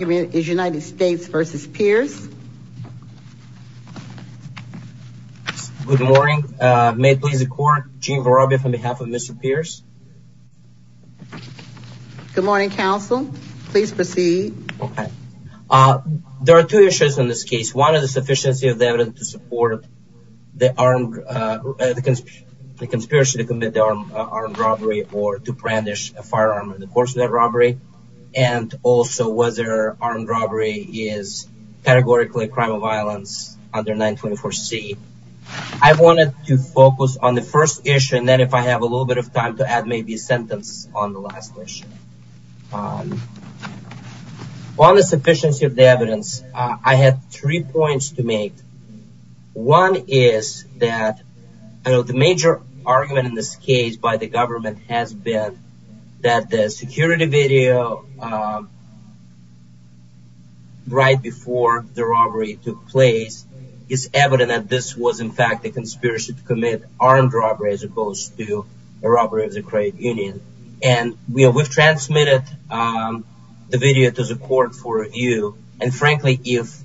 is United States v. Pierce. Good morning. May it please the court, Gene Vorobiev on behalf of Mr. Pierce. Good morning, counsel. Please proceed. Okay. There are two issues in this case. One is the sufficiency of the evidence to support the armed, the conspiracy to commit armed robbery or to brandish a firearm in the course of that robbery. And also was there armed robbery is categorically a crime of violence under 924C. I wanted to focus on the first issue and then if I have a little bit of time to add maybe a sentence on the last issue. On the sufficiency of the evidence, I had three points to make. One is that the major argument in this case by the government has been that the security video right before the robbery took place is evident that this was in fact a conspiracy to commit armed robbery as opposed to a robbery of the credit union. And we have transmitted the video to the court for review. And frankly, if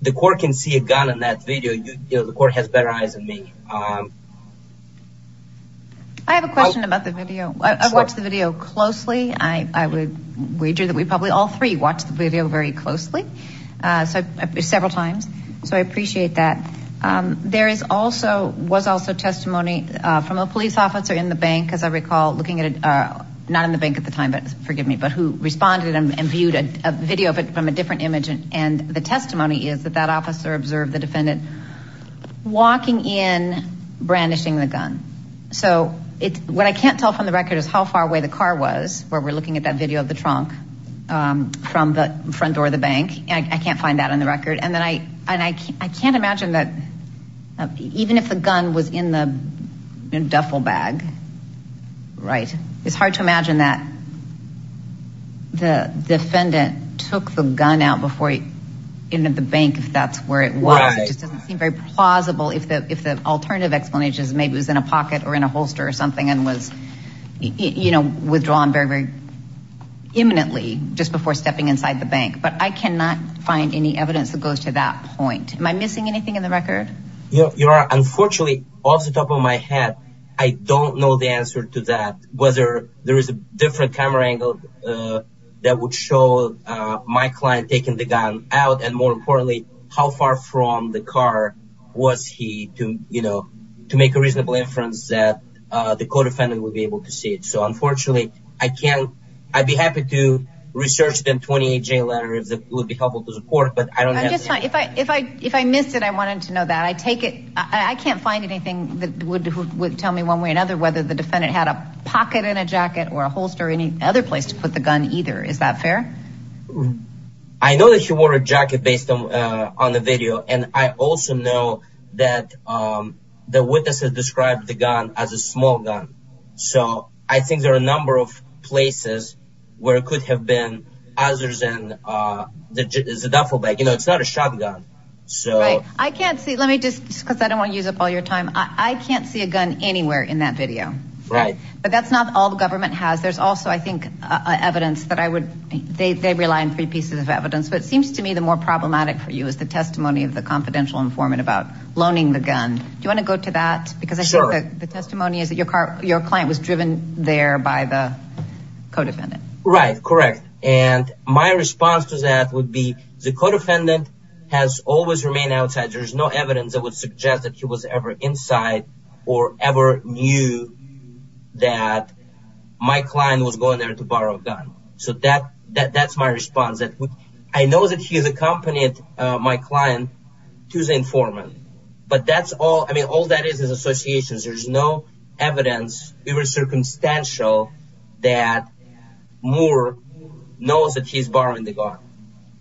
the court can see a gun in that video, you know, the court has better eyes than me. I have a question about the video. I've watched the video closely. I would wager that we probably all three watched the video very closely, several times. So I appreciate that. There is also, was also testimony from a police officer in the bank, as I recall, looking at it, not in the bank at the time, but forgive me, but who responded and viewed a video of it from a different image. And the testimony is that that officer observed the defendant walking in brandishing the gun. So what I can't tell from the record is how far away the car was where we're looking at that video of the trunk from the front door of the bank. I can't find that on the record. And then I, and I can't, I can't imagine that even if the gun was in the duffel bag, right? It's hard to imagine that the defendant took the gun out before he entered the bank. If that's where it was, it just doesn't seem very plausible. If the, if the alternative explanation is maybe it was in a pocket or in a holster or something and was, you know, withdrawn very, very imminently just before stepping inside the bank. But I cannot find any evidence that goes to that point. Am I missing anything in the record? Yeah, you are. Unfortunately, off the top of my head, I don't know the answer to that. Whether there is a different camera angle that would show my client taking the gun out. And more importantly, how far from the car was he to, you know, to make a reasonable inference that the co-defendant would be able to see it. So unfortunately, I can't, I'd be happy to research the 28-J letter if that would be helpful to the court, but I don't know. If I, if I, if I missed it, I wanted to know that. I take it. I can't find anything that would tell me one way or another, whether the defendant had a pocket and a jacket or a holster or any other place to put the gun either. Is that fair? I know that he wore a jacket based on the video. And I also know that the witnesses described the gun as a small gun. So I think there are a number of places where it could have been other than the duffel bag. You know, it's not a shotgun. So I can't see. Let me just because I don't want to use up all your time. I can't see a gun anywhere in that video, right? But that's not all the government has. There's also, I think, evidence that I would, they, they rely on three pieces of evidence, but it seems to me the more problematic for you is the testimony of the confidential informant about loaning the gun. Do you want to go to that? Because the testimony is that your car, your client was driven there by the co-defendant. Right. Correct. And my response to that would be the co-defendant has always remained outside. There is no evidence that would suggest that he was ever inside or ever knew that my client was going there to borrow a gun. So that, that, that's my response. I know that he has accompanied my client to the informant, but that's all, I mean, all that is, is associations. There's no evidence. We were circumstantial that Moore knows that he's borrowing the gun.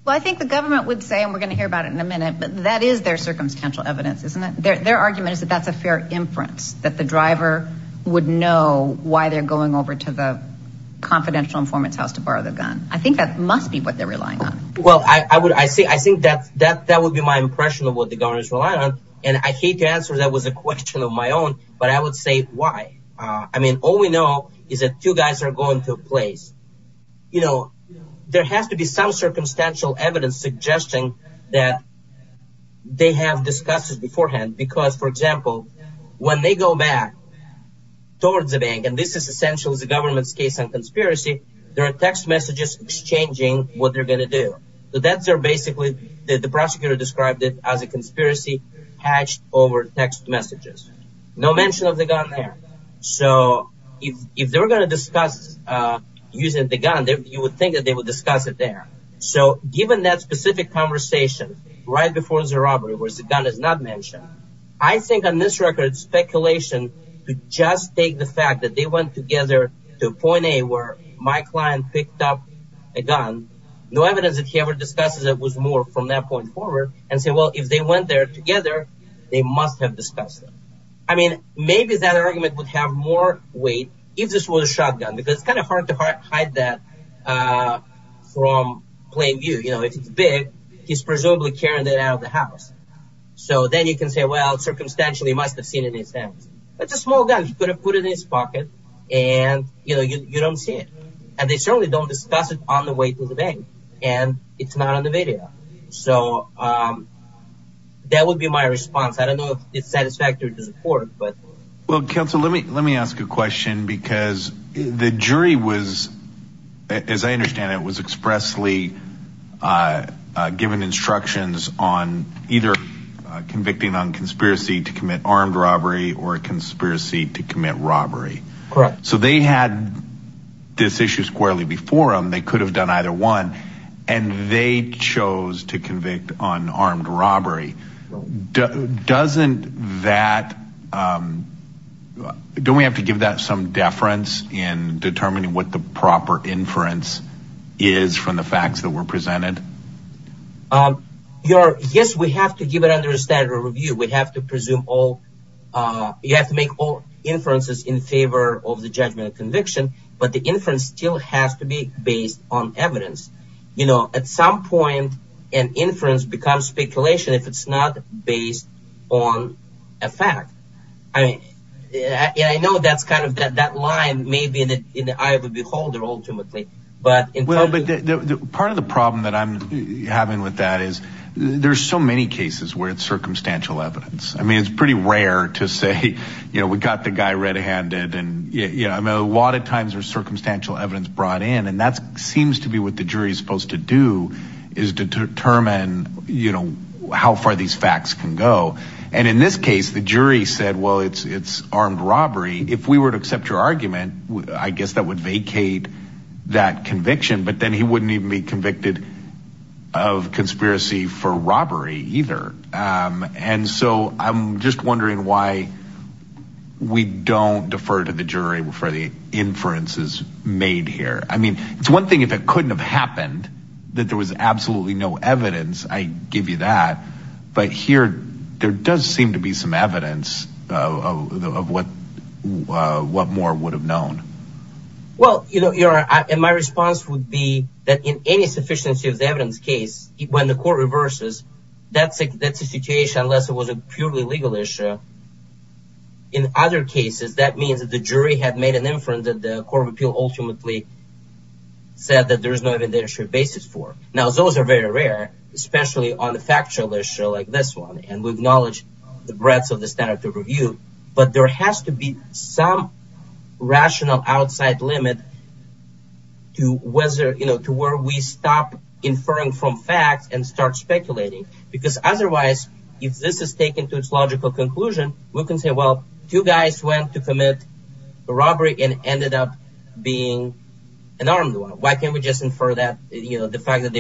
Well, I think the government would say, and we're going to hear about it in a minute, but that is their circumstantial evidence, isn't it? Their, their argument is that that's a fair inference that the driver would know why they're going over to the confidential informant's house to borrow the gun. I think that must be what they're relying on. Well, I, I would, I see, I think that that, that would be my impression of what the governor is relying on. And I hate to answer that was a question of my own, but I would say why, uh, I mean, all we know is that two guys are going to a place, you know, there has to be circumstantial evidence suggesting that they have discussed this beforehand, because for example, when they go back towards the bank, and this is essential as a government's case on conspiracy, there are text messages exchanging what they're going to do. So that's, they're basically, the prosecutor described it as a conspiracy hatched over text messages, no mention of the gun there. So if, if they were going to discuss, uh, using the gun there, you would think that they would discuss it there. So given that specific conversation right before the robbery, where the gun is not mentioned, I think on this record, speculation to just take the fact that they went together to point A where my client picked up a gun, no evidence that he ever discussed it was more from that point forward and say, well, if they went there together, they must have discussed it. I mean, maybe that argument would have more weight if this was a shotgun, because it's kind of hard to hide that, uh, from plain view, you know, if it's big, he's presumably carrying that out of the house. So then you can say, well, circumstantially must've seen it in his hands. That's a small gun. He could have put it in his pocket and you know, you, you don't see it. And they certainly don't discuss it on the way to the bank and it's not on the video. So, um, that would be my response. I don't know if it's satisfactory to the court, but. Well, counsel, let me, let me ask a question because the jury was, as I understand it was expressly, uh, uh, given instructions on either convicting on conspiracy to commit armed robbery or conspiracy to commit robbery. Correct. So they had this issue squarely before them. They could have done either one and they chose to convict on armed robbery. Doesn't that, um, do we have to give that some deference in determining what the proper inference is from the facts that were presented? Um, yes, we have to give it under a standard review. We have to presume all, uh, you have to make all inferences in favor of the judgment of conviction, but the inference still has to be based on evidence. You know, at some point an inference becomes speculation if it's not based on a fact. I mean, yeah, I know that's kind of that, that line may be in the eye of the beholder ultimately, but in part of the problem that I'm having with that is there's so many cases where it's circumstantial evidence. I mean, it's pretty rare to say, you know, we got the guy red handed and yeah, I mean, a lot of times there's circumstantial evidence brought in and that's seems to be what the jury is supposed to do is determine, you know, how far these facts can go. And in this case, the jury said, well, it's, it's armed robbery. If we were to accept your argument, I guess that would vacate that conviction, but then he wouldn't even be convicted of conspiracy for robbery either. Um, and so I'm just wondering why we don't defer to the jury for the inferences made here. I mean, it's one thing if it couldn't have happened that there was absolutely no evidence, I give you that, but here there does seem to be some evidence, uh, of what, uh, what more would have known. Well, you know, your, uh, my response would be that in any sufficiency of the evidence case, when the court reverses, that's a, that's a situation, unless it was a purely legal issue. In other cases, that means that the jury had made an inference that the court of appeal ultimately said that there is no evidence basis for. Now, those are very rare, especially on the factual issue like this one. And we acknowledge the breadth of the standard to review, but there has to be some rational outside limit to whether, you know, to where we stop inferring from facts and start speculating because otherwise, if this is taken to its logical conclusion, we can say, two guys went to commit a robbery and ended up being an armed one. Why can't we just infer that, you know, the fact that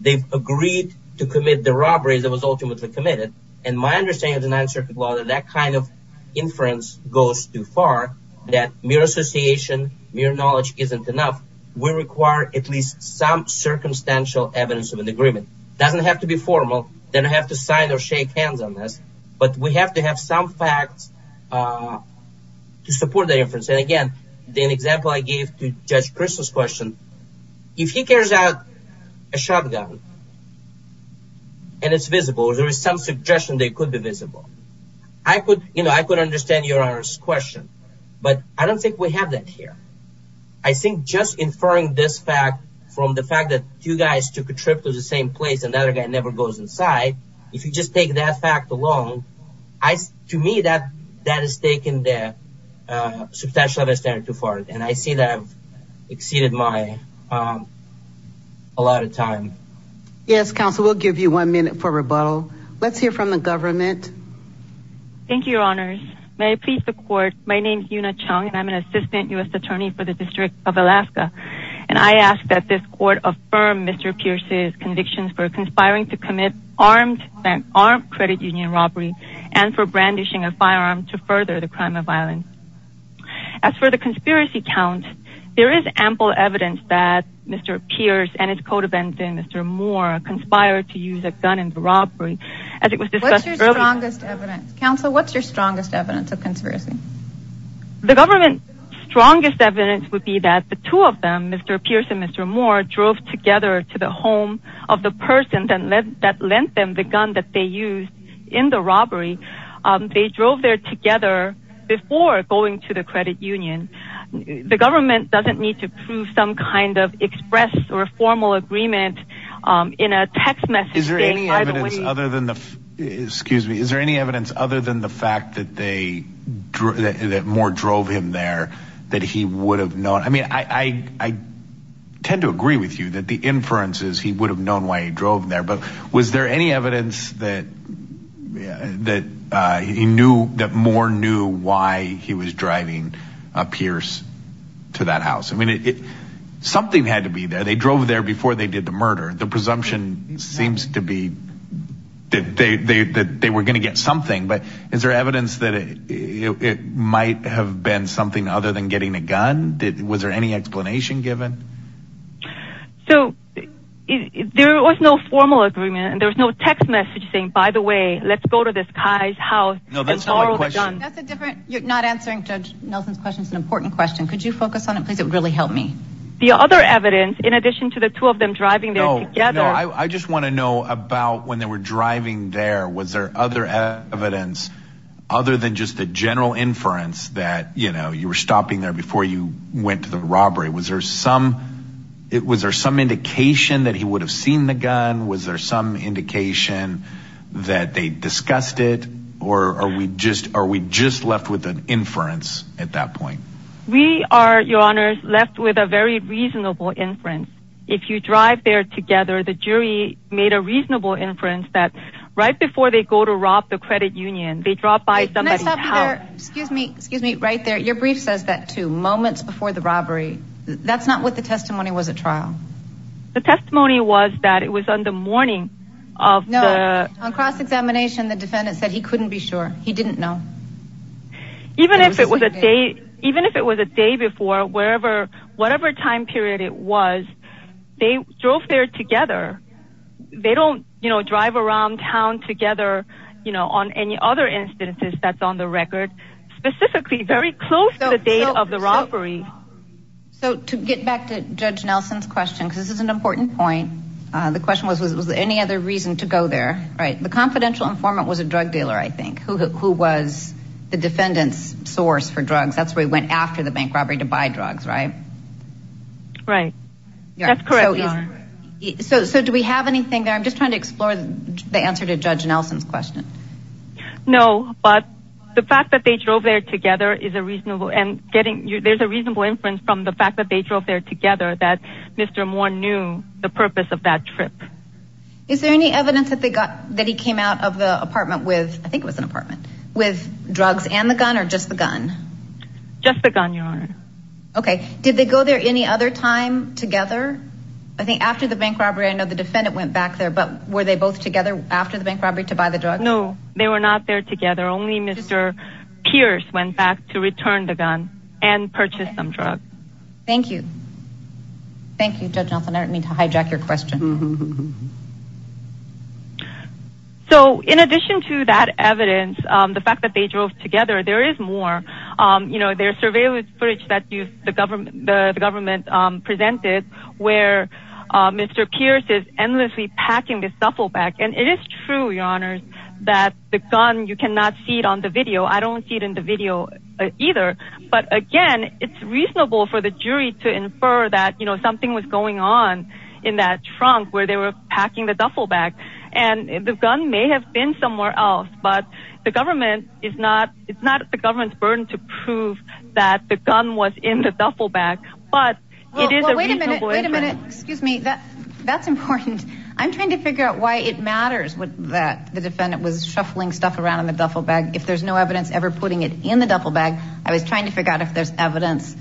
they've agreed to commit the robberies that was ultimately committed. And my understanding of the ninth circuit law that that kind of inference goes too far, that mere association, mere knowledge isn't enough. We require at least some circumstantial evidence of an agreement. It doesn't have to be formal. They don't have to sign or shake hands on but we have to have some facts to support the inference. And again, the example I gave to judge Crystal's question, if he carries out a shotgun and it's visible, there is some suggestion they could be visible. I could, you know, I could understand your honor's question, but I don't think we have that here. I think just inferring this fact from the fact that two guys took a trip to the same place, another guy never goes inside. If you just take that fact alone, to me, that is taking the substantial of a standard too far. And I see that I've exceeded my, a lot of time. Yes, counsel, we'll give you one minute for rebuttal. Let's hear from the government. Thank you, your honors. May I please the court. My name is Yuna Chung and I'm an Assistant U.S. Attorney for the District of Alaska. And I ask that this court affirm Mr. Pierce's convictions for conspiring to commit armed bank, armed credit union robbery and for brandishing a firearm to further the crime of violence. As for the conspiracy count, there is ample evidence that Mr. Pierce and his co-defendant, Mr. Moore conspired to use a gun in the robbery. As it was discussed earlier. What's your strongest evidence? Counsel, what's your strongest evidence of conspiracy? The government's strongest evidence would be that the two of them, Mr. Pierce and Mr. Moore, drove together to the home of the person that lent them the gun that they used in the robbery. They drove there together before going to the credit union. The government doesn't need to prove some kind of express or formal agreement in a text message. Is there any evidence other than the, excuse me, is there any evidence other than the fact that that Moore drove him there that he would have known? I mean, I tend to agree with you that the inference is he would have known why he drove there. But was there any evidence that that he knew that Moore knew why he was driving Pierce to that house? I mean, something had to be there. They drove there before they did the murder. The presumption seems to be that they were going to get something. But is there evidence that it might have been something other than getting a gun? Was there any explanation given? So there was no formal agreement and there was no text message saying, by the way, let's go to this guy's house. No, that's not my question. That's a different. You're not answering Judge Nelson's question. It's an important question. Could you focus on it, please? It would really help me. The other evidence, in addition to the two of them driving together, I just want to know about when they were driving there, was there other evidence other than just the general inference that, you know, you were stopping there before you went to the robbery? Was there some it was there some indication that he would have seen the gun? Was there some indication that they discussed it? Or are we just are we just left with an inference at that point? We are, Your Honor, left with a very reasonable inference. If you drive there together, the jury made a reasonable inference that right before they go to rob the credit union, they drop by somebody's house. Excuse me. Excuse me. Right there. Your brief says that two moments before the robbery. That's not what the testimony was at trial. The testimony was that it was on the morning of the cross examination. The defendant said he couldn't be sure he didn't know. Even if it was a day, even if it was a day before, wherever, whatever time period it was, they drove there together. They don't, you know, drive around town together, you know, on any other instances that's on the record, specifically very close to the date of the robbery. So to get back to Judge Nelson's question, because this is an important point. The question was, was there any other reason to go there? Right. The confidential informant was a drug dealer, I think, who was the defendant's source for drugs. That's where he went after the bank robbery to buy drugs, right? Right. That's correct. So do we have anything there? I'm just trying to explore the answer to Judge Nelson's question. No, but the fact that they drove there together is a reasonable and getting there's a reasonable inference from the fact that they drove there together, that Mr. Moore knew the purpose of that trip. Is there any evidence that they got, that he came out of the apartment with, I think it was an apartment, with drugs and the gun or just the gun? Just the gun, your honor. Okay. Did they go there any other time together? I think after the bank robbery, I know the defendant went back there, but were they both together after the bank robbery to buy the drug? No, they were not there together. Only Mr. Pierce went back to return the gun and purchase some drugs. Thank you. Thank you, Judge Nelson. Need to hijack your question. So in addition to that evidence, the fact that they drove together, there is more, you know, there's surveillance footage that the government presented where Mr. Pierce is endlessly packing this duffel bag. And it is true, your honor, that the gun, you cannot see it on the video. I don't see it in the video either, but again, it's reasonable for the jury to infer that, you know, something was going on in that trunk where they were packing the duffel bag and the gun may have been somewhere else, but the government is not, it's not the government's burden to prove that the gun was in the duffel bag, but it is a reasonable- Wait a minute, excuse me. That's important. I'm trying to figure out why it matters that the defendant was shuffling stuff around in the duffel bag. If there's no evidence ever putting it in the duffel bag, I was trying to figure out if there's evidence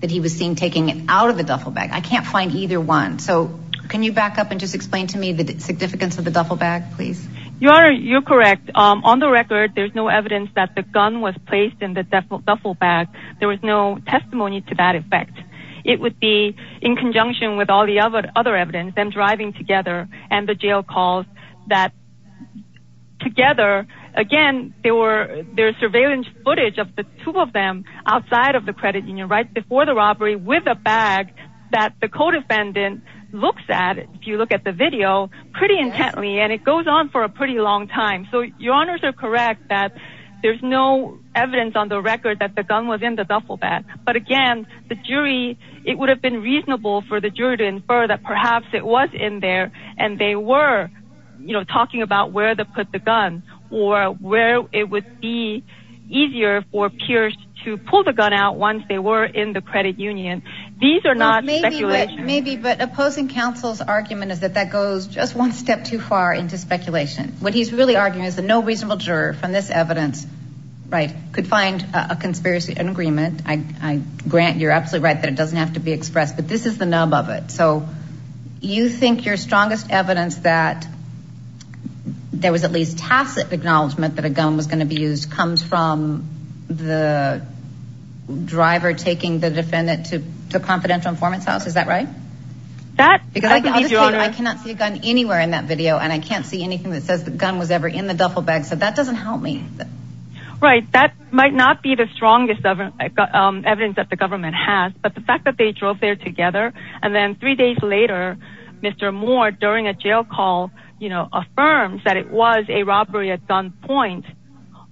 that he was seen taking it out of the duffel bag. I can't find either one. So can you back up and just explain to me the significance of the duffel bag, please? Your honor, you're correct. On the record, there's no evidence that the gun was placed in the duffel bag. There was no testimony to that effect. It would be in conjunction with all the other evidence, them driving together and the jail calls that together. Again, there's surveillance footage of the two of them outside of the credit union, right before the robbery with a bag that the co-defendant looks at, if you look at the video, pretty intently, and it goes on for a pretty long time. So your honors are correct that there's no evidence on the record that the gun was in the duffel bag. But again, the jury, it would have been reasonable for the jury to infer that perhaps it was in there and they were talking about where they put the gun or where it would be easier for peers to pull the gun out once they were in the credit union. These are not speculations. Maybe, but opposing counsel's argument is that that goes just one step too far into speculation. What he's really arguing is that no reasonable juror from this evidence, right, could find a conspiracy, an agreement. I grant you're absolutely right that it doesn't have to be expressed, but this is the nub of it. So you think your strongest evidence that there was at least tacit acknowledgement that a gun was going to be used comes from the driver taking the defendant to the confidential informant's house. Is that right? I cannot see a gun anywhere in that video and I can't see anything that says the gun was ever in the duffel bag. So that doesn't help me. Right. That might not be the strongest evidence that the government has, but the fact that they drove there together and then three days later, Mr. Moore, during a jail call, you know, affirms that it was a robbery at gunpoint.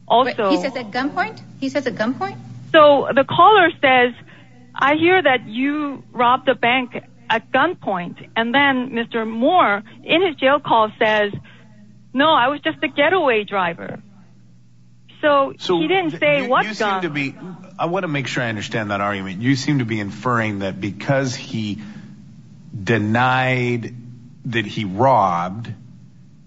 Also, he says at gunpoint, he says at gunpoint. So the caller says, I hear that you robbed a bank at gunpoint. And then Mr. Moore in his jail call says, no, I was just a getaway driver. So he didn't say what you seem to be. I want to make sure I understand that argument. You seem to be inferring that because he denied that he robbed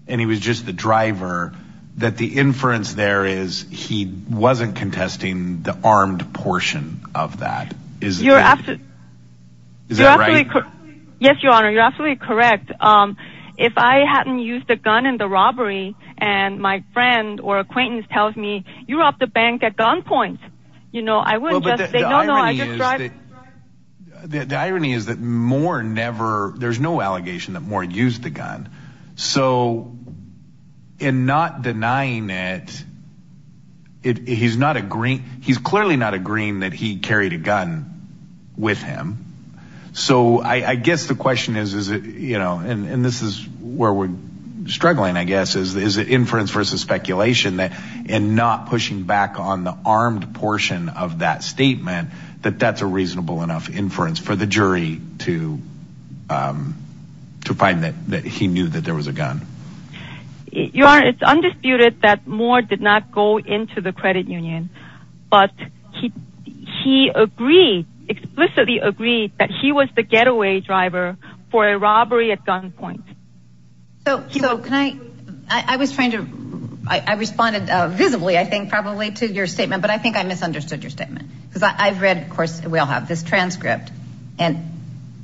and he was just the driver, that the inference there is he wasn't contesting the armed portion of that. You're absolutely correct. Yes, Your Honor, you're absolutely correct. If I hadn't used a gun in the robbery and my friend or acquaintance tells me you robbed a bank at gunpoint, you know, I would just say, no, no, the irony is that Moore never there's no allegation that Moore used the gun. So in not denying it, he's not agreeing. He's clearly not agreeing that he carried a gun with him. So I guess the question is, is it you know, and this is where we're struggling, I guess, is the inference versus speculation that and not pushing back on the armed portion of that statement, that that's a reasonable enough inference for the jury to to find that he knew that there was a gun. Your Honor, it's undisputed that Moore did not go into the credit union, but he he agreed, explicitly agreed that he was the getaway driver for a robbery at gunpoint. So can I I was trying to I responded visibly, I think, probably to your statement, but I think I misunderstood your statement because I've read, of course, we all have this transcript and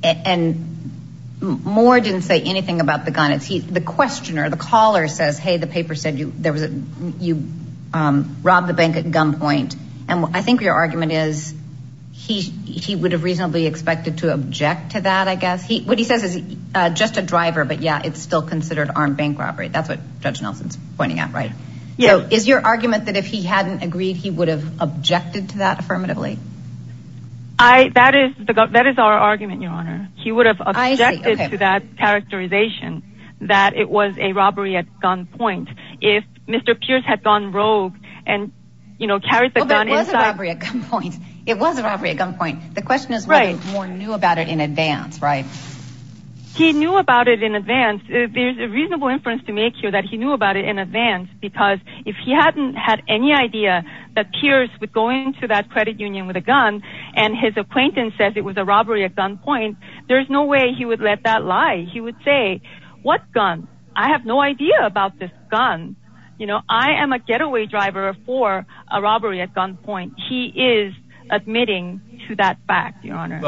and Moore didn't say anything about the gun. It's the questioner. The caller says, hey, the paper said you there was a you robbed the bank at gunpoint. And I think your argument is he he would have reasonably expected to object to that. I guess what he says is just a driver. But yeah, it's still considered armed bank robbery. That's what Judge Nelson's pointing out, right? Yeah. Is your argument that if he hadn't agreed, he would have objected to that affirmatively? I that is that is our argument, Your Honor. He would have objected to that characterization that it was a robbery at gunpoint. If Mr. Pierce had gone rogue and, you know, carried the gun inside a gunpoint, it was a robbery at gunpoint. The question is, Moore knew about it in advance, right? He knew about it in advance. There's a reasonable inference to make here that he knew about it in advance because if he hadn't had any idea that Pierce would go into that credit union with a gun and his acquaintance says it was a robbery at gunpoint, there's no way he would let that lie. He would say, what gun? I have no idea about this gun. You know, I am a getaway driver for a robbery at gunpoint. He is admitting to that fact, Your Honor.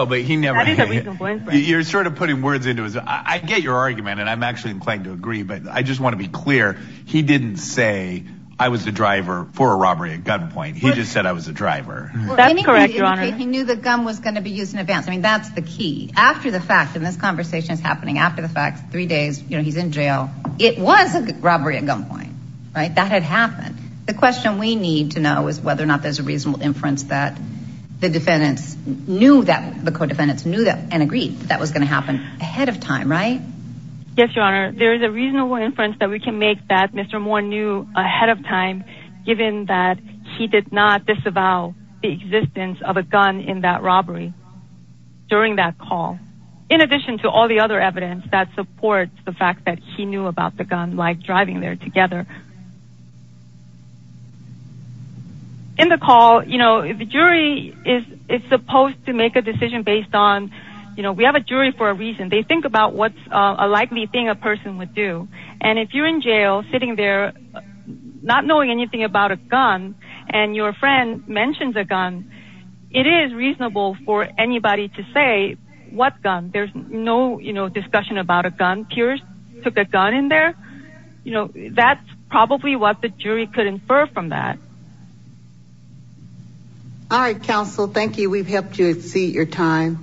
You're sort of putting words into it. I get your argument and I'm actually inclined to agree, but I just want to be clear. He didn't say I was the driver for a robbery at gunpoint. He just said I was a driver. That's correct, Your Honor. He knew the gun was going to be used in advance. I mean, that's the key. After the fact, and this conversation is happening after the fact, three days, you know, he's in jail. It was a robbery at gunpoint, right? That had happened. The question we need to know is whether or not there's a reasonable inference that the defendants knew that, the co-defendants knew that and agreed that was going to happen ahead of time, right? Yes, Your Honor. There is a reasonable inference that we can make that Mr. Moore knew ahead of time, given that he did not disavow the existence of a gun in that robbery during that call. In addition to all the other evidence that supports the fact that he knew about the gun, like driving there together. In the call, you know, the jury is supposed to make a decision based on, you know, we have a jury for a reason. They think about what's a likely thing a person would do. And if you're in jail sitting there, not knowing anything about a gun, and your friend mentions a gun, it is reasonable for anybody to say what gun. There's no, you know, you know, that's probably what the jury could infer from that. All right, counsel. Thank you. We've helped you exceed your time.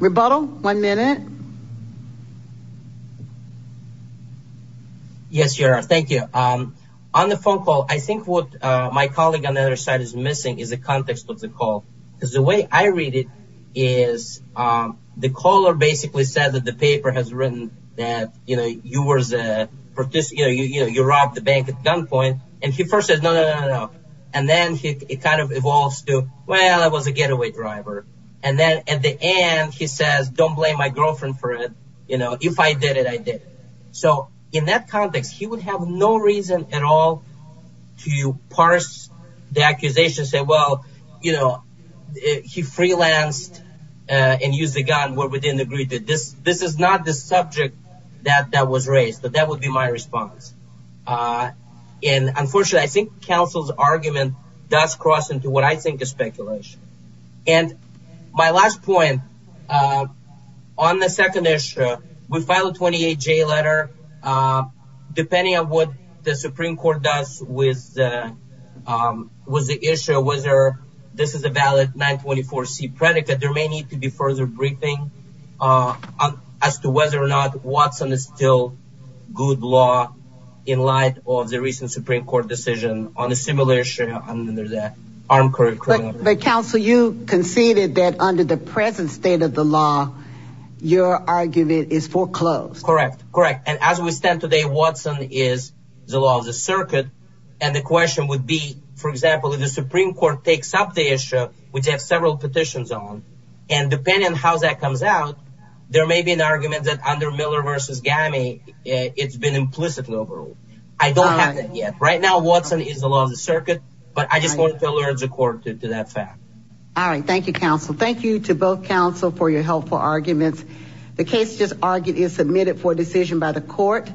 Rebuttal. One minute. Yes, Your Honor. Thank you. On the phone call, I think what my colleague on the other side is missing is the context of the call. Because the way I read it is the caller basically said that the paper has written that, you know, you were the participant, you know, you robbed the bank at gunpoint. And he first said, no, no, no, no, no. And then he kind of evolves to, well, I was a getaway driver. And then at the end, he says, don't blame my girlfriend for it. You know, if I did it, I did. So in that context, he would have no reason at all to parse the accusation, say, you know, he freelanced and used a gun where we didn't agree to this. This is not the subject that was raised. But that would be my response. And unfortunately, I think counsel's argument does cross into what I think is speculation. And my last point on the second issue, we filed a 28-J letter. Depending on what the Supreme Court does with the issue, whether this is a valid 924-C predicate, there may need to be further briefing as to whether or not Watson is still good law in light of the recent Supreme Court decision on a similar issue under the armed criminal justice. But counsel, you conceded that under the present state of the law, your argument is foreclosed. Correct, correct. And as we stand today, Watson is the law of the circuit. And the question would be, for example, if the Supreme Court takes up the issue, which has several petitions on, and depending on how that comes out, there may be an argument that under Miller v. Gammy, it's been implicitly overruled. I don't have that yet. Right now, Watson is the law of the circuit. But I just wanted to alert the court to that fact. All right. Thank you, counsel. Thank you to both counsel for your helpful arguments. The case just argued is submitted for decision by the court.